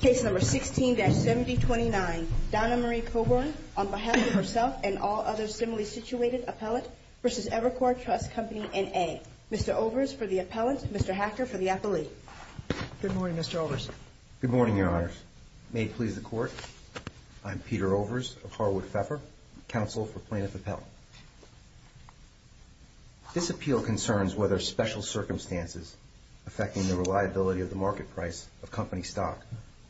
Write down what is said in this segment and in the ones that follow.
Case number 16-7029. Donna Marie Coburn on behalf of herself and all other similarly situated appellate v. Evercore Trust Company, N.A. Mr. Overs for the appellant. Mr. Hacker for the appellee. Good morning, Mr. Overs. Good morning, Your Honors. May it please the Court, I'm Peter Overs of Harwood Pfeffer, counsel for plaintiff appellant. This appeal concerns whether special circumstances affecting the reliability of the market price of company stock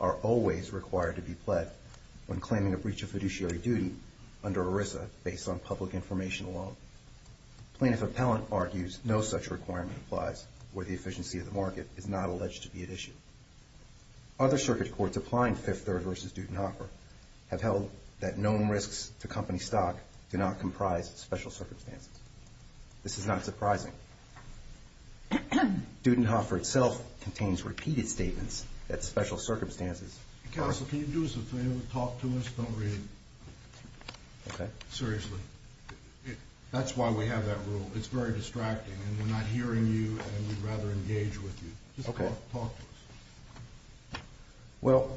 are always required to be pled when claiming a breach of fiduciary duty under ERISA based on public information alone. Plaintiff appellant argues no such requirement applies where the efficiency of the market is not alleged to be at issue. Other circuit courts applying Fifth Third v. Dudenhofer have held that known risks to company stock do not comprise special circumstances. This is not surprising. Dudenhofer itself contains repeated statements that special circumstances... Counsel, can you do us a favor and talk to us? Don't read. Okay. Seriously. That's why we have that rule. It's very distracting and we're not hearing you and we'd rather engage with you. Okay. Well,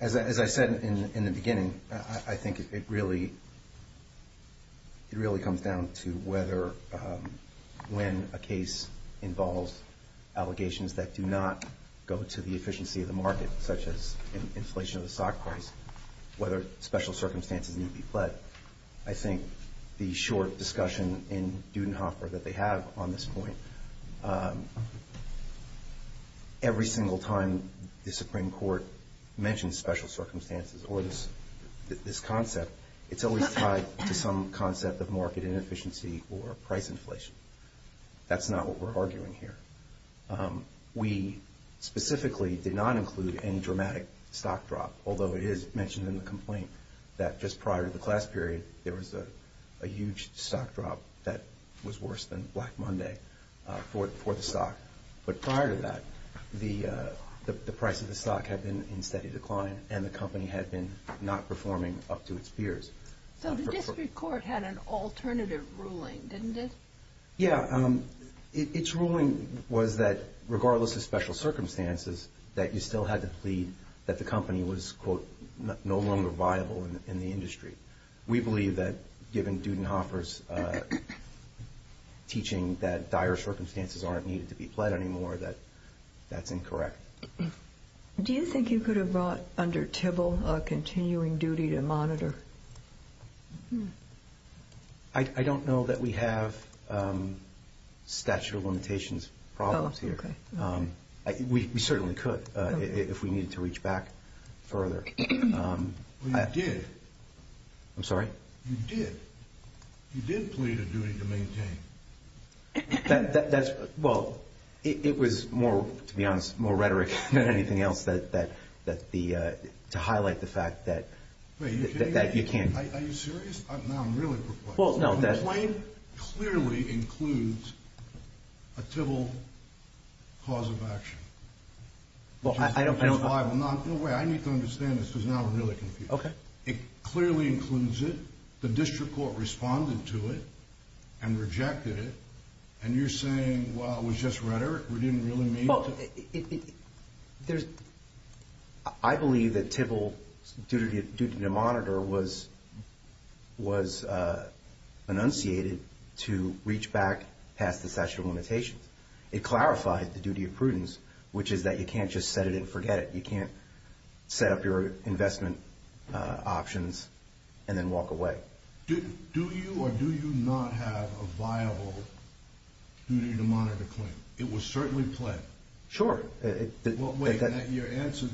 as I said in the beginning, I think it really comes down to whether when a case involves allegations that do not go to the efficiency of the market, such as inflation of the stock price, whether special circumstances need to be pled. But I think the short discussion in Dudenhofer that they have on this point, every single time the Supreme Court mentions special circumstances or this concept, it's always tied to some concept of market inefficiency or price inflation. That's not what we're arguing here. We specifically did not include any dramatic stock drop, although it is mentioned in the complaint that just prior to the class period, there was a huge stock drop that was worse than Black Monday for the stock. But prior to that, the price of the stock had been in steady decline and the company had been not performing up to its peers. So the district court had an alternative ruling, didn't it? Yeah. Its ruling was that regardless of special circumstances, that you still had to plead that the company was, quote, no longer viable in the industry. We believe that given Dudenhofer's teaching that dire circumstances aren't needed to be pled anymore, that that's incorrect. Do you think you could have brought under Tibble a continuing duty to monitor? I don't know that we have statute of limitations problems here. We certainly could if we needed to reach back further. You did. I'm sorry? You did. You did plead a duty to maintain. Well, it was more, to be honest, more rhetoric than anything else to highlight the fact that you can. Are you serious? No, I'm really perplexed. Well, no. The complaint clearly includes a Tibble cause of action. Well, I don't know. No way. I need to understand this because now I'm really confused. It clearly includes it. The district court responded to it and rejected it, and you're saying, well, it was just rhetoric. We didn't really mean to. Well, I believe that Tibble's duty to monitor was enunciated to reach back past the statute of limitations. It clarified the duty of prudence, which is that you can't just set it and forget it. You can't set up your investment options and then walk away. Do you or do you not have a viable duty to monitor claim? It was certainly pled. Sure. Well, wait. Your answer to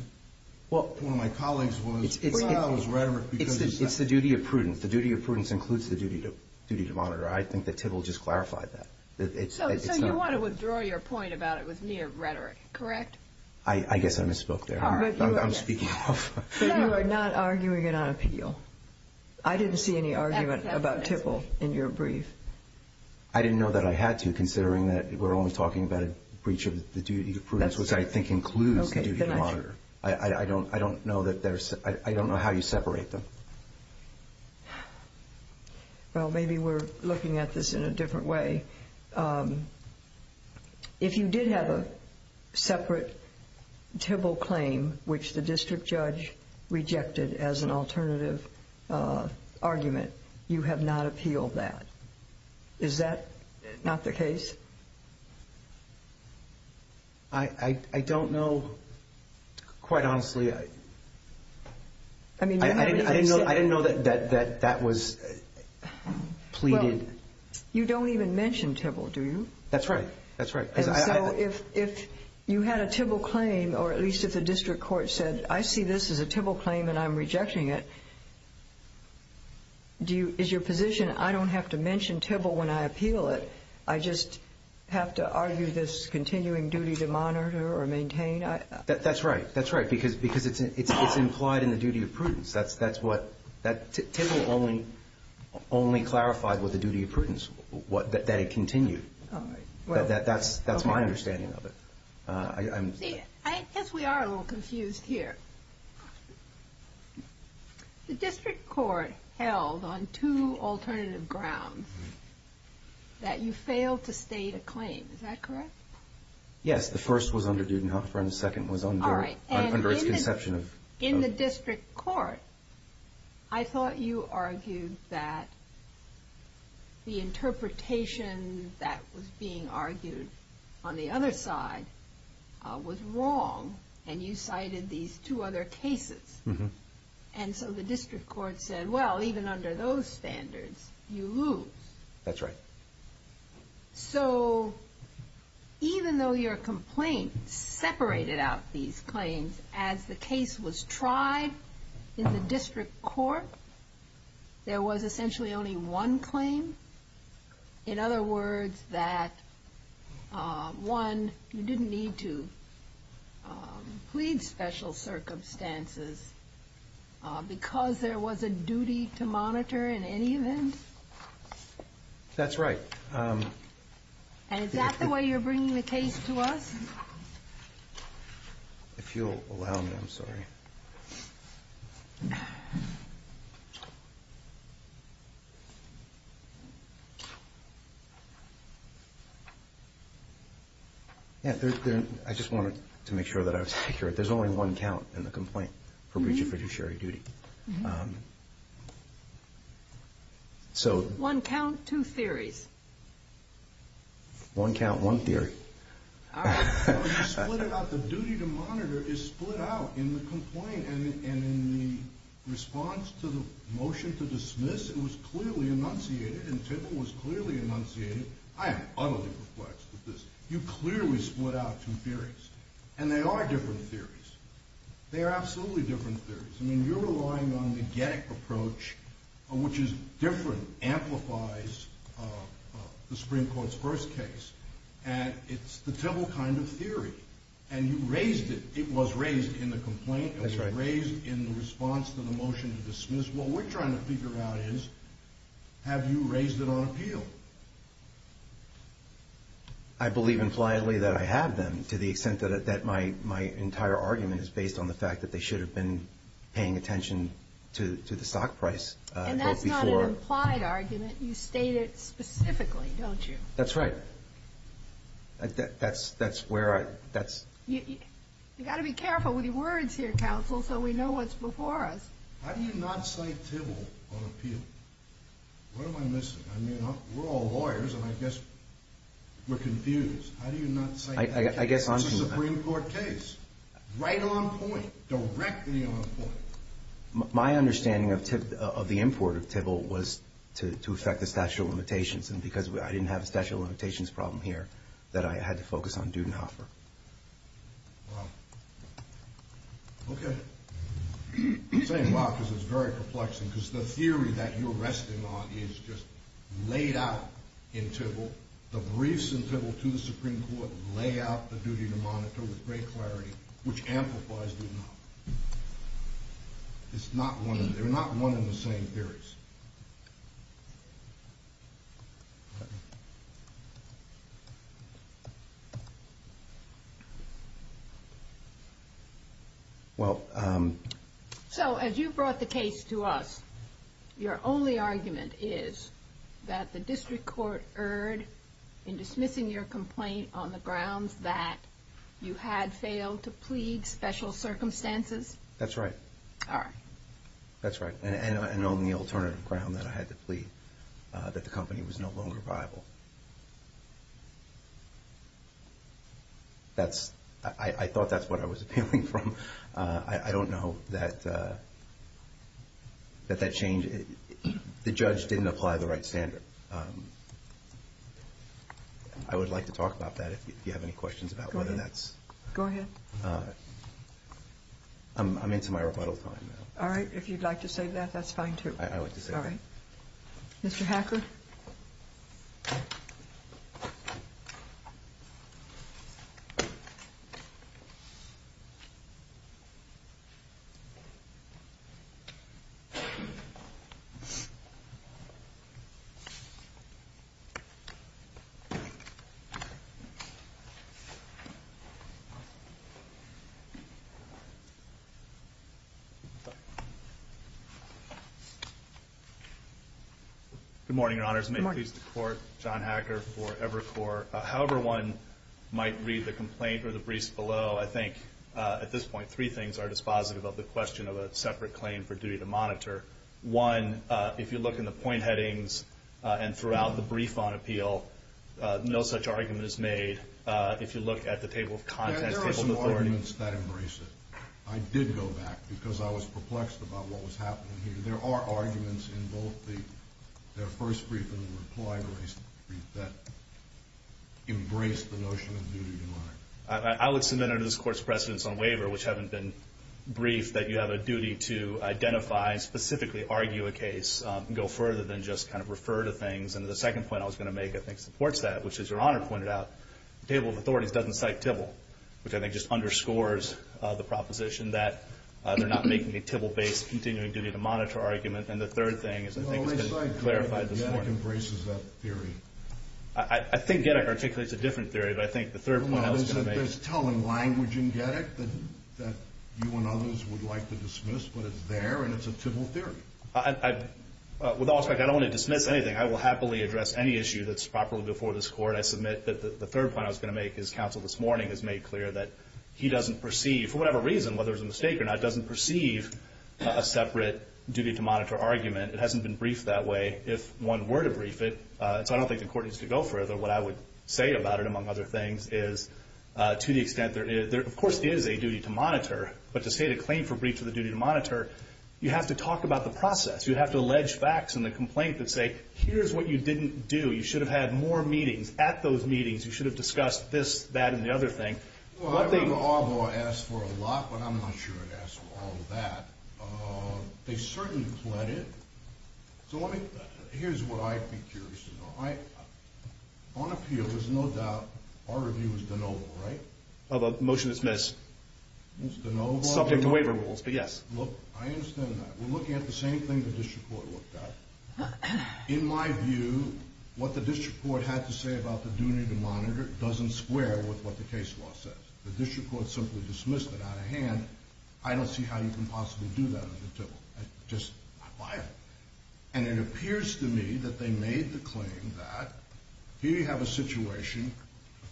one of my colleagues was, well, it was rhetoric. It's the duty of prudence. The duty of prudence includes the duty to monitor. I think that Tibble just clarified that. So you want to withdraw your point about it was mere rhetoric, correct? I guess I misspoke there. I'm speaking off. But you are not arguing it on appeal. I didn't see any argument about Tibble in your brief. I didn't know that I had to, considering that we're only talking about a breach of the duty of prudence, which I think includes the duty to monitor. I don't know how you separate them. Well, maybe we're looking at this in a different way. If you did have a separate Tibble claim, which the district judge rejected as an alternative argument, you have not appealed that. Is that not the case? I don't know, quite honestly. I didn't know that that was pleaded. You don't even mention Tibble, do you? That's right. That's right. And so if you had a Tibble claim, or at least if the district court said, I see this as a Tibble claim and I'm rejecting it, is your position I don't have to mention Tibble when I appeal it? I just have to argue this continuing duty to monitor or maintain? That's right. Tibble only clarified with the duty of prudence that it continued. That's my understanding of it. I guess we are a little confused here. The district court held on two alternative grounds that you failed to state a claim. Is that correct? Yes. The first was under Dudenhofer and the second was under its conception. In the district court, I thought you argued that the interpretation that was being argued on the other side was wrong, and you cited these two other cases. And so the district court said, well, even under those standards, you lose. That's right. So even though your complaint separated out these claims, as the case was tried in the district court, there was essentially only one claim? In other words, that one, you didn't need to plead special circumstances because there was a duty to monitor in any event? That's right. And is that the way you're bringing the case to us? If you'll allow me, I'm sorry. I just wanted to make sure that I was accurate. There's only one count in the complaint for breach of fiduciary duty. One count, two theories. One count, one theory. You split it out. The duty to monitor is split out in the complaint. And in the response to the motion to dismiss, it was clearly enunciated and Tipple was clearly enunciated. I am utterly perplexed with this. You clearly split out two theories. And they are different theories. They are absolutely different theories. I mean, you're relying on the Getik approach, which is different, amplifies the Supreme Court's first case. And it's the Tipple kind of theory. And you raised it. It was raised in the complaint. It was raised in the response to the motion to dismiss. What we're trying to figure out is have you raised it on appeal? I believe impliedly that I have them to the extent that my entire argument is based on the fact that they should have been paying attention to the stock price. And that's not an implied argument. You state it specifically, don't you? That's right. That's where I – that's – You've got to be careful with your words here, counsel, so we know what's before us. How do you not cite Tipple on appeal? What am I missing? I mean, we're all lawyers, and I guess we're confused. How do you not cite Tipple? I guess on – It's a Supreme Court case. Right on point. Directly on point. My understanding of the import of Tipple was to affect the statute of limitations. And because I didn't have a statute of limitations problem here, that I had to focus on due and offer. Wow. Okay. I'm saying wow because it's very perplexing because the theory that you're resting on is just laid out in Tipple. The briefs in Tipple to the Supreme Court lay out the duty to monitor with great clarity, which amplifies due and offer. It's not one – they're not one and the same theories. Well – So as you brought the case to us, your only argument is that the district court erred in dismissing your complaint on the grounds that you had failed to plead special circumstances? That's right. All right. That's right. And on the alternative ground that I had to plead that the company was no longer viable. That's – I thought that's what I was appealing from. I don't know that that changed – the judge didn't apply the right standard. I would like to talk about that if you have any questions about whether that's – Go ahead. Go ahead. I'm into my rebuttal time now. All right. If you'd like to say that, that's fine, too. I would. All right. Mr. Hacker? Good morning, Your Honors. Good morning. May it please the Court, John Hacker for Evercore. However one might read the complaint or the briefs below, I think at this point three things are dispositive of the question of a separate claim for duty to monitor. One, if you look in the point headings and throughout the brief on appeal, no such argument is made. If you look at the table of contents – There are some arguments that embrace it. I did go back because I was perplexed about what was happening here. There are arguments in both the first brief and the reply brief that embrace the notion of duty to monitor. I would submit under this Court's precedence on waiver, which haven't been briefed, that you have a duty to identify and specifically argue a case and go further than just kind of refer to things. And the second point I was going to make I think supports that, which as Your Honor pointed out, the table of authorities doesn't cite TIBL, which I think just underscores the proposition that they're not making a TIBL-based continuing duty to monitor argument. And the third thing is I think it's been clarified this morning. Well, at least I think Gettick embraces that theory. I think Gettick articulates a different theory, but I think the third point I was going to make – No, no, there's telling language in Gettick that you and others would like to dismiss, but it's there and it's a TIBL theory. With all respect, I don't want to dismiss anything. I will happily address any issue that's properly before this Court. I submit that the third point I was going to make, as counsel this morning has made clear, that he doesn't perceive, for whatever reason, whether it's a mistake or not, doesn't perceive a separate duty to monitor argument. It hasn't been briefed that way. If one were to brief it – so I don't think the Court needs to go further. What I would say about it, among other things, is to the extent – there, of course, is a duty to monitor, but to state a claim for brief for the duty to monitor, you have to talk about the process. You have to allege facts in the complaint that say, here's what you didn't do. You should have had more meetings. At those meetings, you should have discussed this, that, and the other thing. Well, I remember Arbo asked for a lot, but I'm not sure he asked for all of that. They certainly fled it. So let me – here's what I'd be curious to know. On appeal, there's no doubt our review was de novo, right? The motion is dismissed. Subject to waiver rules, but yes. Look, I understand that. We're looking at the same thing the district court looked at. In my view, what the district court had to say about the duty to monitor doesn't square with what the case law says. The district court simply dismissed it out of hand. I don't see how you can possibly do that under the table. It's just not viable. And it appears to me that they made the claim that here you have a situation,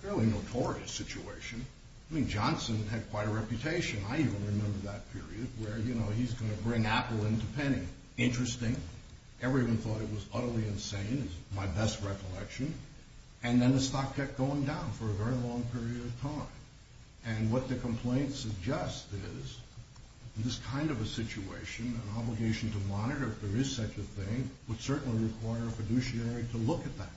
a fairly notorious situation. I mean, Johnson had quite a reputation. I even remember that period where, you know, he's going to bring Apple into Penny. Interesting. Everyone thought it was utterly insane, is my best recollection. And then the stock kept going down for a very long period of time. And what the complaint suggests is this kind of a situation, an obligation to monitor if there is such a thing, would certainly require a fiduciary to look at that.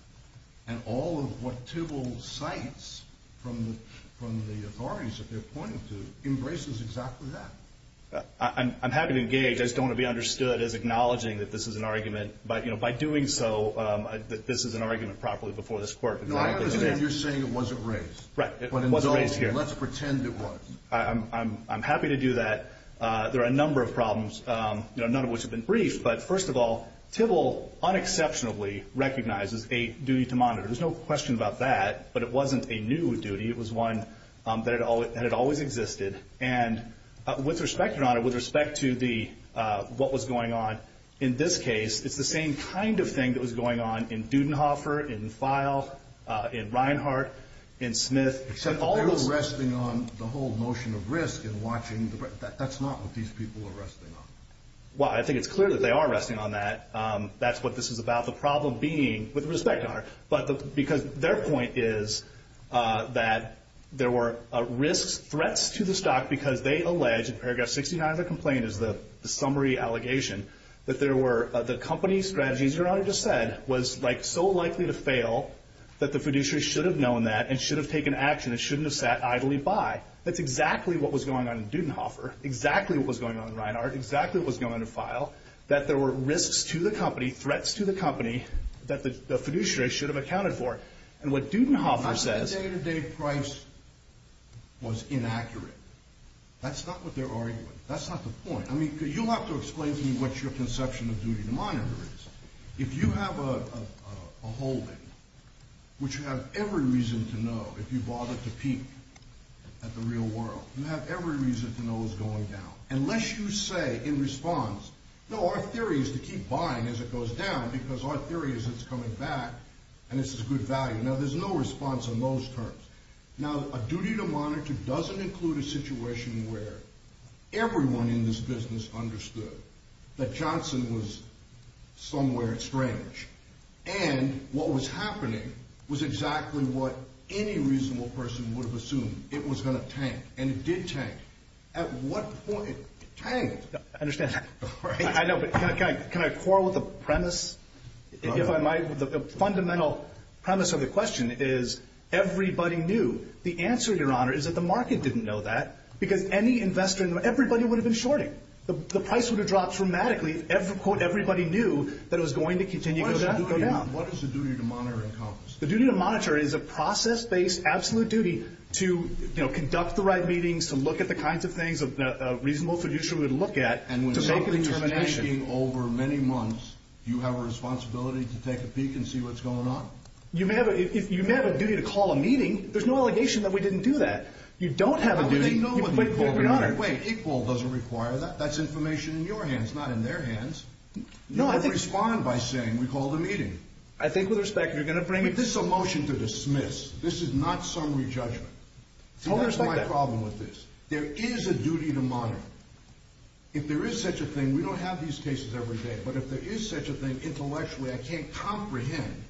And all of what Tybalt cites from the authorities that they're pointing to embraces exactly that. I'm happy to engage. I just don't want to be understood as acknowledging that this is an argument. But, you know, by doing so, this is an argument properly before this court. No, I understand you're saying it wasn't raised. Right, it wasn't raised here. Let's pretend it was. I'm happy to do that. There are a number of problems, none of which have been briefed. But, first of all, Tybalt unexceptionally recognizes a duty to monitor. There's no question about that. But it wasn't a new duty. It was one that had always existed. And with respect, Your Honor, with respect to what was going on in this case, it's the same kind of thing that was going on in Dudenhofer, in Feil, in Reinhart, in Smith. Except that they were resting on the whole notion of risk and watching. That's not what these people are resting on. Well, I think it's clear that they are resting on that. That's what this is about, the problem being, with respect, Your Honor, but because their point is that there were risks, threats to the stock because they allege, in paragraph 69 of the complaint is the summary allegation, that the company's strategy, as Your Honor just said, was so likely to fail that the fiduciary should have known that and should have taken action and shouldn't have sat idly by. That's exactly what was going on in Dudenhofer, exactly what was going on in Reinhart, exactly what was going on in Feil, that there were risks to the company, threats to the company that the fiduciary should have accounted for. And what Dudenhofer says... Not that the day-to-day price was inaccurate. That's not what they're arguing. That's not the point. I mean, you'll have to explain to me what your conception of duty to monitor is. If you have a holding, which you have every reason to know if you bother to peek at the real world, you have every reason to know it's going down, unless you say in response, no, our theory is to keep buying as it goes down because our theory is it's coming back and this is good value. Now, there's no response on those terms. Now, a duty to monitor doesn't include a situation where everyone in this business understood that Johnson was somewhere strange and what was happening was exactly what any reasonable person would have assumed. It was going to tank, and it did tank. At what point it tanked... I know, but can I quarrel with the premise, if I might? The fundamental premise of the question is everybody knew. The answer, Your Honor, is that the market didn't know that because any investor in the market, everybody would have been shorting. The price would have dropped dramatically if, quote, everybody knew that it was going to continue to go down. What is the duty to monitor encompassed? The duty to monitor is a process-based absolute duty to conduct the right meetings, to look at the kinds of things a reasonable producer would look at to make a determination. And when something is tanking over many months, do you have a responsibility to take a peek and see what's going on? You may have a duty to call a meeting. There's no allegation that we didn't do that. You don't have a duty. But they know when they called, Your Honor. Wait, equal doesn't require that. That's information in your hands, not in their hands. No, I think... You don't respond by saying we called a meeting. I think, with respect, you're going to bring... This is a motion to dismiss. This is not summary judgment. Totally respect that. See, that's my problem with this. There is a duty to monitor. If there is such a thing, we don't have these cases every day. But if there is such a thing, intellectually, I can't comprehend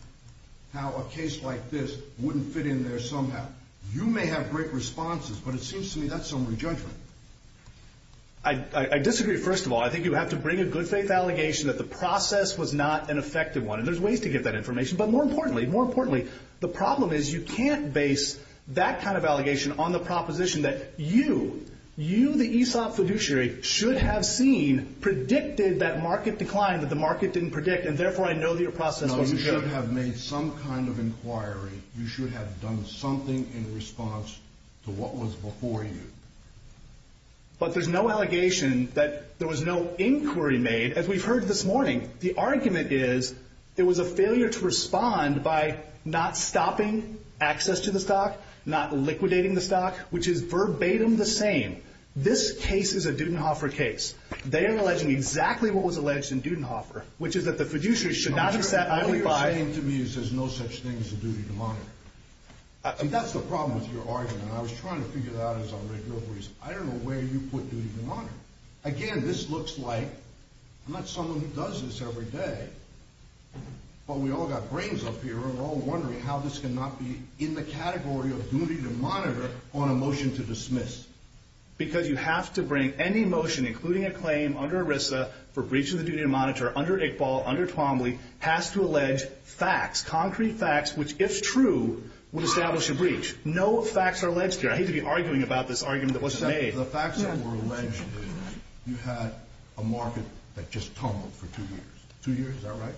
how a case like this wouldn't fit in there somehow. You may have great responses, but it seems to me that's summary judgment. I disagree, first of all. I think you have to bring a good faith allegation that the process was not an effective one. And there's ways to get that information. But more importantly, more importantly, the problem is you can't base that kind of allegation on the proposition that you, you, the ESOP fiduciary, should have seen, predicted that market declined, that the market didn't predict, and therefore I know that your process wasn't good. No, you should have made some kind of inquiry. You should have done something in response to what was before you. But there's no allegation that there was no inquiry made. As we've heard this morning, the argument is there was a failure to respond by not stopping access to the stock, not liquidating the stock, which is verbatim the same. This case is a Dudenhofer case. They are alleging exactly what was alleged in Dudenhofer, which is that the fiduciary should not have sat idly by. What you're saying to me is there's no such thing as a duty to monitor. See, that's the problem with your argument. I was trying to figure that out as a regular reason. I don't know where you put duty to monitor. Again, this looks like, I'm not someone who does this every day, but we all got brains up here and we're all wondering how this can not be in the category of duty to monitor on a motion to dismiss. Because you have to bring any motion, including a claim under ERISA for breaching the duty to monitor under Iqbal, under Twombly, has to allege facts, concrete facts, which, if true, would establish a breach. No facts are alleged here. I hate to be arguing about this argument that was made. The facts that were alleged, you had a market that just tumbled for two years. Two years, is that right?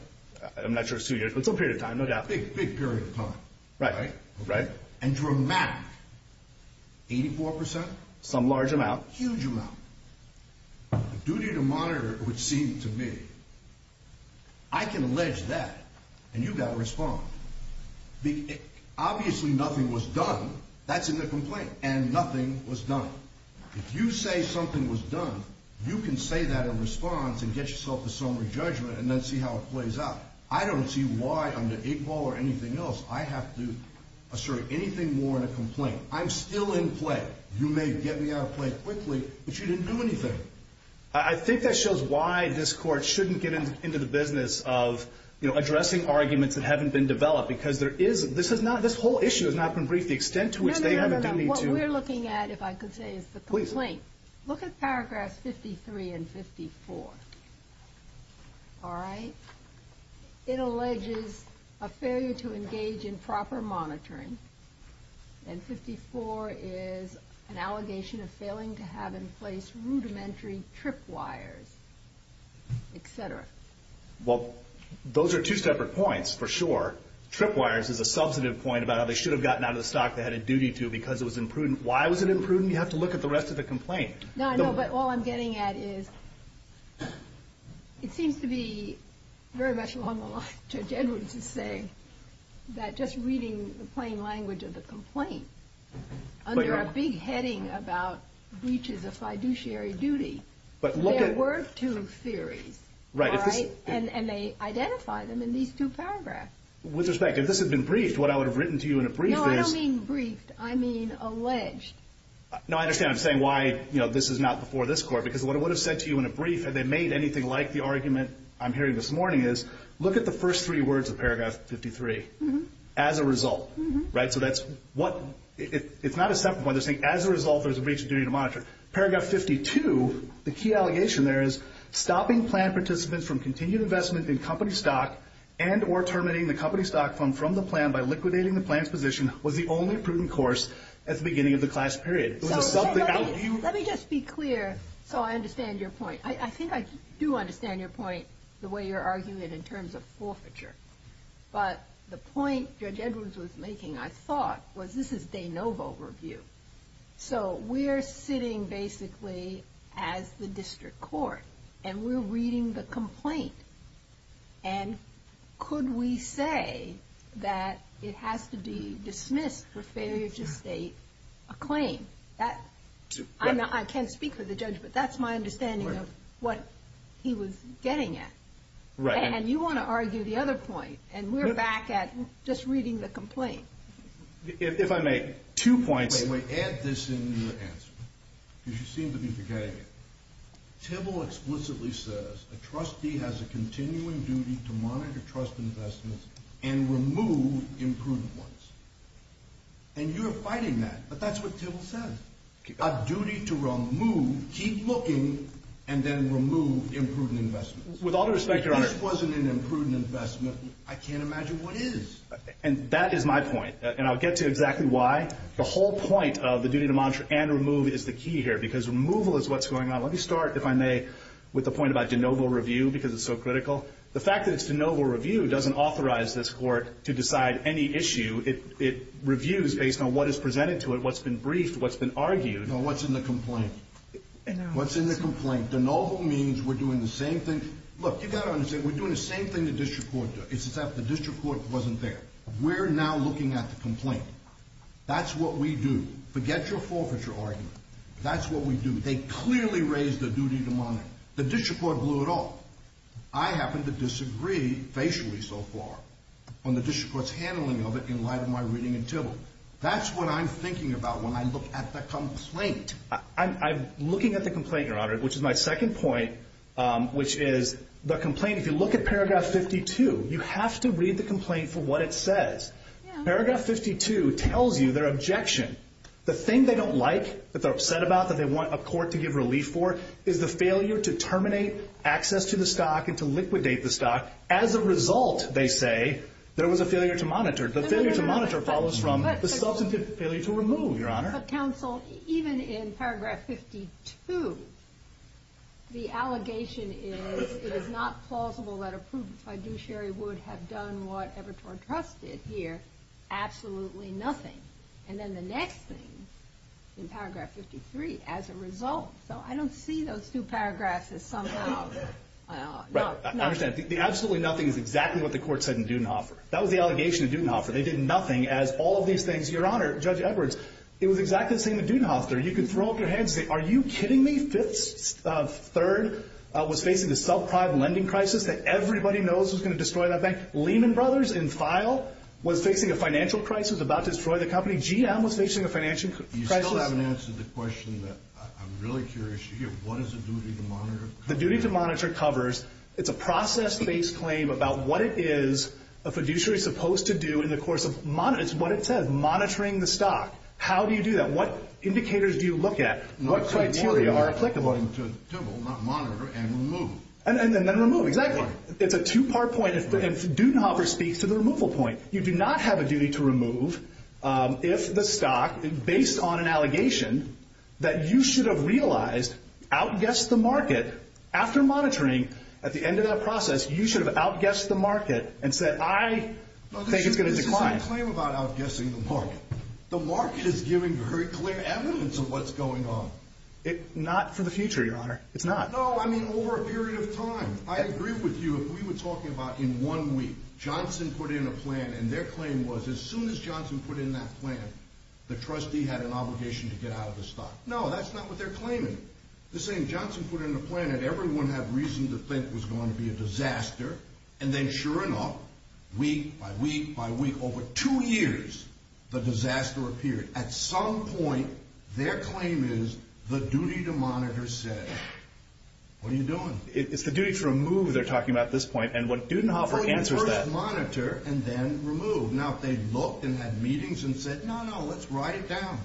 That's a big, big period of time, right? Right. And dramatic. Eighty-four percent? Some large amount. Huge amount. The duty to monitor, it would seem to me, I can allege that, and you've got to respond. Obviously nothing was done. That's in the complaint. And nothing was done. If you say something was done, you can say that in response and get yourself a summary judgment and then see how it plays out. I don't see why under Iqbal or anything else I have to assert anything more in a complaint. I'm still in play. You may get me out of play quickly, but you didn't do anything. I think that shows why this Court shouldn't get into the business of addressing arguments that haven't been developed, because this whole issue has not been briefed, the extent to which they haven't been briefed. No, no, no, no. What we're looking at, if I could say, is the complaint. Look at paragraphs 53 and 54. All right? It alleges a failure to engage in proper monitoring, and 54 is an allegation of failing to have in place rudimentary tripwires, etc. Well, those are two separate points, for sure. Tripwires is a substantive point about how they should have gotten out of the stock they had a duty to because it was imprudent. Why was it imprudent? You have to look at the rest of the complaint. No, I know, but all I'm getting at is it seems to be very much along the lines of Judge Edwards is saying that just reading the plain language of the complaint, under a big heading about breaches of fiduciary duty, there were two theories, and they identify them in these two paragraphs. With respect, if this had been briefed, what I would have written to you in a brief is— No, I don't mean briefed. I mean alleged. No, I understand. I'm saying why this is not before this court, because what I would have said to you in a brief, had they made anything like the argument I'm hearing this morning, is look at the first three words of paragraph 53, as a result. So that's what—it's not a separate point. They're saying as a result there's a breach of duty to monitor. Paragraph 52, the key allegation there is, stopping plan participants from continued investment in company stock and or terminating the company stock fund from the plan by liquidating the plan's position was the only prudent course at the beginning of the class period. Let me just be clear, so I understand your point. I think I do understand your point, the way you're arguing it in terms of forfeiture. But the point Judge Edwards was making, I thought, was this is de novo review. So we're sitting basically as the district court, and we're reading the complaint. And could we say that it has to be dismissed for failure to state a claim? I can't speak for the judge, but that's my understanding of what he was getting at. And you want to argue the other point, and we're back at just reading the complaint. If I may, two points. Add this in your answer, because you seem to be forgetting it. Tibble explicitly says a trustee has a continuing duty to monitor trust investments and remove imprudent ones. And you're fighting that, but that's what Tibble says. A duty to remove, keep looking, and then remove imprudent investments. With all due respect, Your Honor, If this wasn't an imprudent investment, I can't imagine what is. And that is my point, and I'll get to exactly why. The whole point of the duty to monitor and remove is the key here, because removal is what's going on. Let me start, if I may, with the point about de novo review, because it's so critical. The fact that it's de novo review doesn't authorize this court to decide any issue. It reviews based on what is presented to it, what's been briefed, what's been argued. No, what's in the complaint? What's in the complaint? De novo means we're doing the same thing. Look, you've got to understand, we're doing the same thing the district court does. It's just that the district court wasn't there. We're now looking at the complaint. That's what we do. Forget your forfeiture argument. That's what we do. They clearly raised the duty to monitor. The district court blew it off. I happen to disagree, facially so far, on the district court's handling of it in light of my reading in Tivoli. That's what I'm thinking about when I look at the complaint. I'm looking at the complaint, Your Honor, which is my second point, which is the complaint. If you look at paragraph 52, you have to read the complaint for what it says. Paragraph 52 tells you their objection. The thing they don't like, that they're upset about, that they want a court to give relief for, is the failure to terminate access to the stock and to liquidate the stock. As a result, they say, there was a failure to monitor. The failure to monitor follows from the substantive failure to remove, Your Honor. But counsel, even in paragraph 52, the allegation is it is not plausible that a prudent fiduciary would have done what Evertor Trust did here, absolutely nothing. And then the next thing, in paragraph 53, as a result. So I don't see those two paragraphs as somehow not. I understand. The absolutely nothing is exactly what the court said in Dudenhofer. That was the allegation in Dudenhofer. They did nothing, as all of these things. Your Honor, Judge Edwards, it was exactly the same in Dudenhofer. You could throw up your hands and say, are you kidding me? Third was facing a subprime lending crisis that everybody knows was going to destroy that bank. Lehman Brothers, in file, was facing a financial crisis, about to destroy the company. GM was facing a financial crisis. You still haven't answered the question that I'm really curious to hear. What does the duty to monitor cover? The duty to monitor covers, it's a process-based claim about what it is a fiduciary is supposed to do in the course of monitoring. It's what it says, monitoring the stock. How do you do that? What indicators do you look at? What criteria are applicable? To monitor and remove. And then remove, exactly. It's a two-part point, and Dudenhofer speaks to the removal point. You do not have a duty to remove if the stock, based on an allegation, that you should have realized outguessed the market. After monitoring, at the end of that process, you should have outguessed the market and said, I think it's going to decline. This is my claim about outguessing the market. The market is giving very clear evidence of what's going on. Not for the future, Your Honor. It's not. No, I mean over a period of time. I agree with you if we were talking about in one week, Johnson put in a plan and their claim was as soon as Johnson put in that plan, the trustee had an obligation to get out of the stock. No, that's not what they're claiming. They're saying Johnson put in a plan and everyone had reason to think it was going to be a disaster, and then sure enough, week by week by week, over two years, the disaster appeared. At some point, their claim is the duty to monitor said, what are you doing? It's the duty to remove they're talking about at this point, and what Dudenhofer answers that. First monitor and then remove. Now, if they looked and had meetings and said, no, no, let's write it down,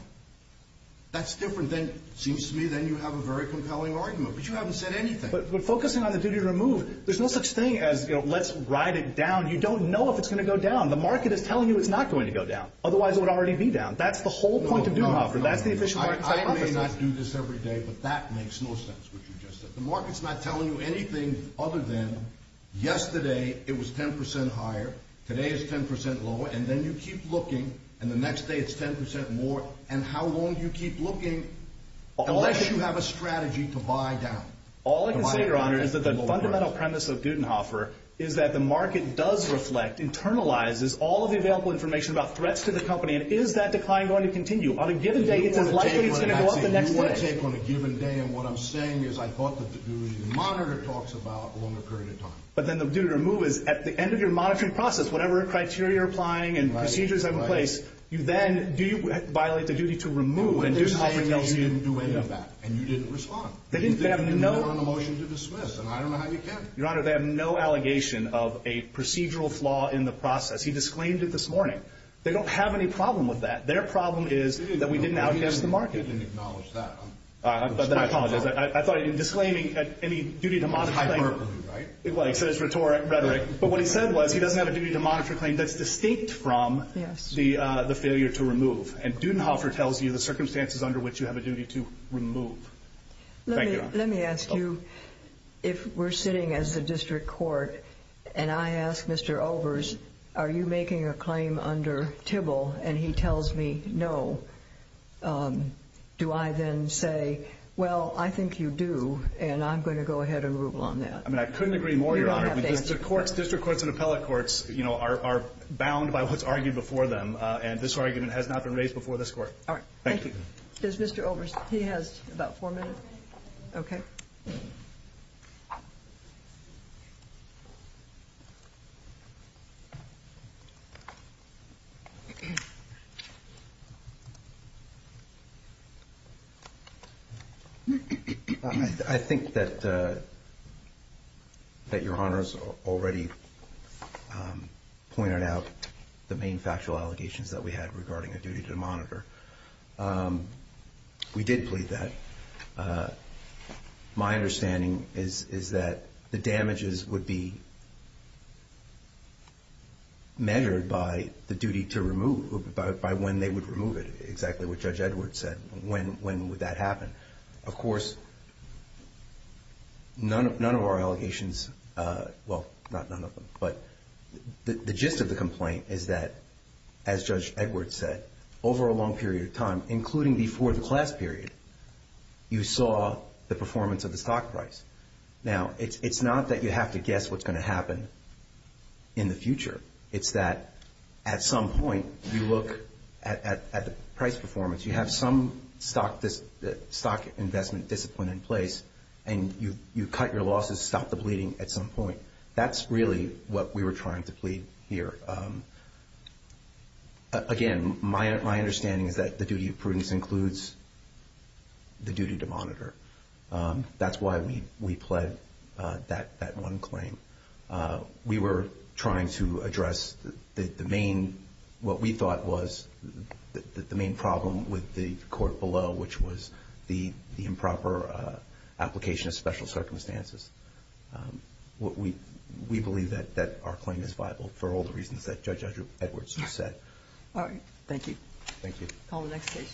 that's different. It seems to me then you have a very compelling argument, but you haven't said anything. But focusing on the duty to remove, there's no such thing as let's write it down. You don't know if it's going to go down. The market is telling you it's not going to go down. Otherwise, it would already be down. That's the whole point of Dudenhofer. That's the official market. I may not do this every day, but that makes no sense, what you just said. The market's not telling you anything other than yesterday it was 10% higher, today it's 10% lower, and then you keep looking, and the next day it's 10% more. And how long do you keep looking unless you have a strategy to buy down? All I can say, Your Honor, is that the fundamental premise of Dudenhofer is that the market does reflect, internalizes all of the available information about threats to the company, and is that decline going to continue? On a given day, it's as likely it's going to go up the next day. You want to take what I'm saying, you want to take on a given day, and what I'm saying is I thought that the duty to monitor talks about a longer period of time. But then the duty to remove is at the end of your monitoring process, whatever criteria you're applying and procedures are in place, you then violate the duty to remove. And what they're saying is you didn't do any of that, and you didn't respond. They didn't have no – You didn't move on a motion to dismiss, and I don't know how you can. Your Honor, they have no allegation of a procedural flaw in the process. He disclaimed it this morning. They don't have any problem with that. Their problem is that we didn't outcast the market. You didn't acknowledge that. Then I apologize. I thought in disclaiming any duty to monitor claim – It was hyperbole, right? Well, he said it's rhetoric. But what he said was he doesn't have a duty to monitor claim that's distinct from the failure to remove. And Dudenhofer tells you the circumstances under which you have a duty to remove. Thank you. Let me ask you if we're sitting as the district court, and I ask Mr. Overs, are you making a claim under TIBL, and he tells me no, do I then say, well, I think you do, and I'm going to go ahead and rule on that? I mean, I couldn't agree more, Your Honor. District courts and appellate courts are bound by what's argued before them, and this argument has not been raised before this court. All right. Thank you. There's Mr. Overs. He has about four minutes. Okay. I think that Your Honor has already pointed out the main factual allegations that we had regarding a duty to monitor. We did plead that. My understanding is that the damages would be measured by the duty to remove, by when they would remove it, exactly what Judge Edwards said, when would that happen. Of course, none of our allegations, well, not none of them, but the gist of the complaint is that, as Judge Edwards said, over a long period of time, including before the class period, you saw the performance of the stock price. Now, it's not that you have to guess what's going to happen in the future. It's that, at some point, you look at the price performance. You have some stock investment discipline in place, and you cut your losses, stop the bleeding at some point. That's really what we were trying to plead here. Again, my understanding is that the duty of prudence includes the duty to monitor. That's why we pled that one claim. We were trying to address what we thought was the main problem with the court below, which was the improper application of special circumstances. We believe that our claim is viable for all the reasons that Judge Edwards just said. All right. Thank you. Thank you. Call the next case.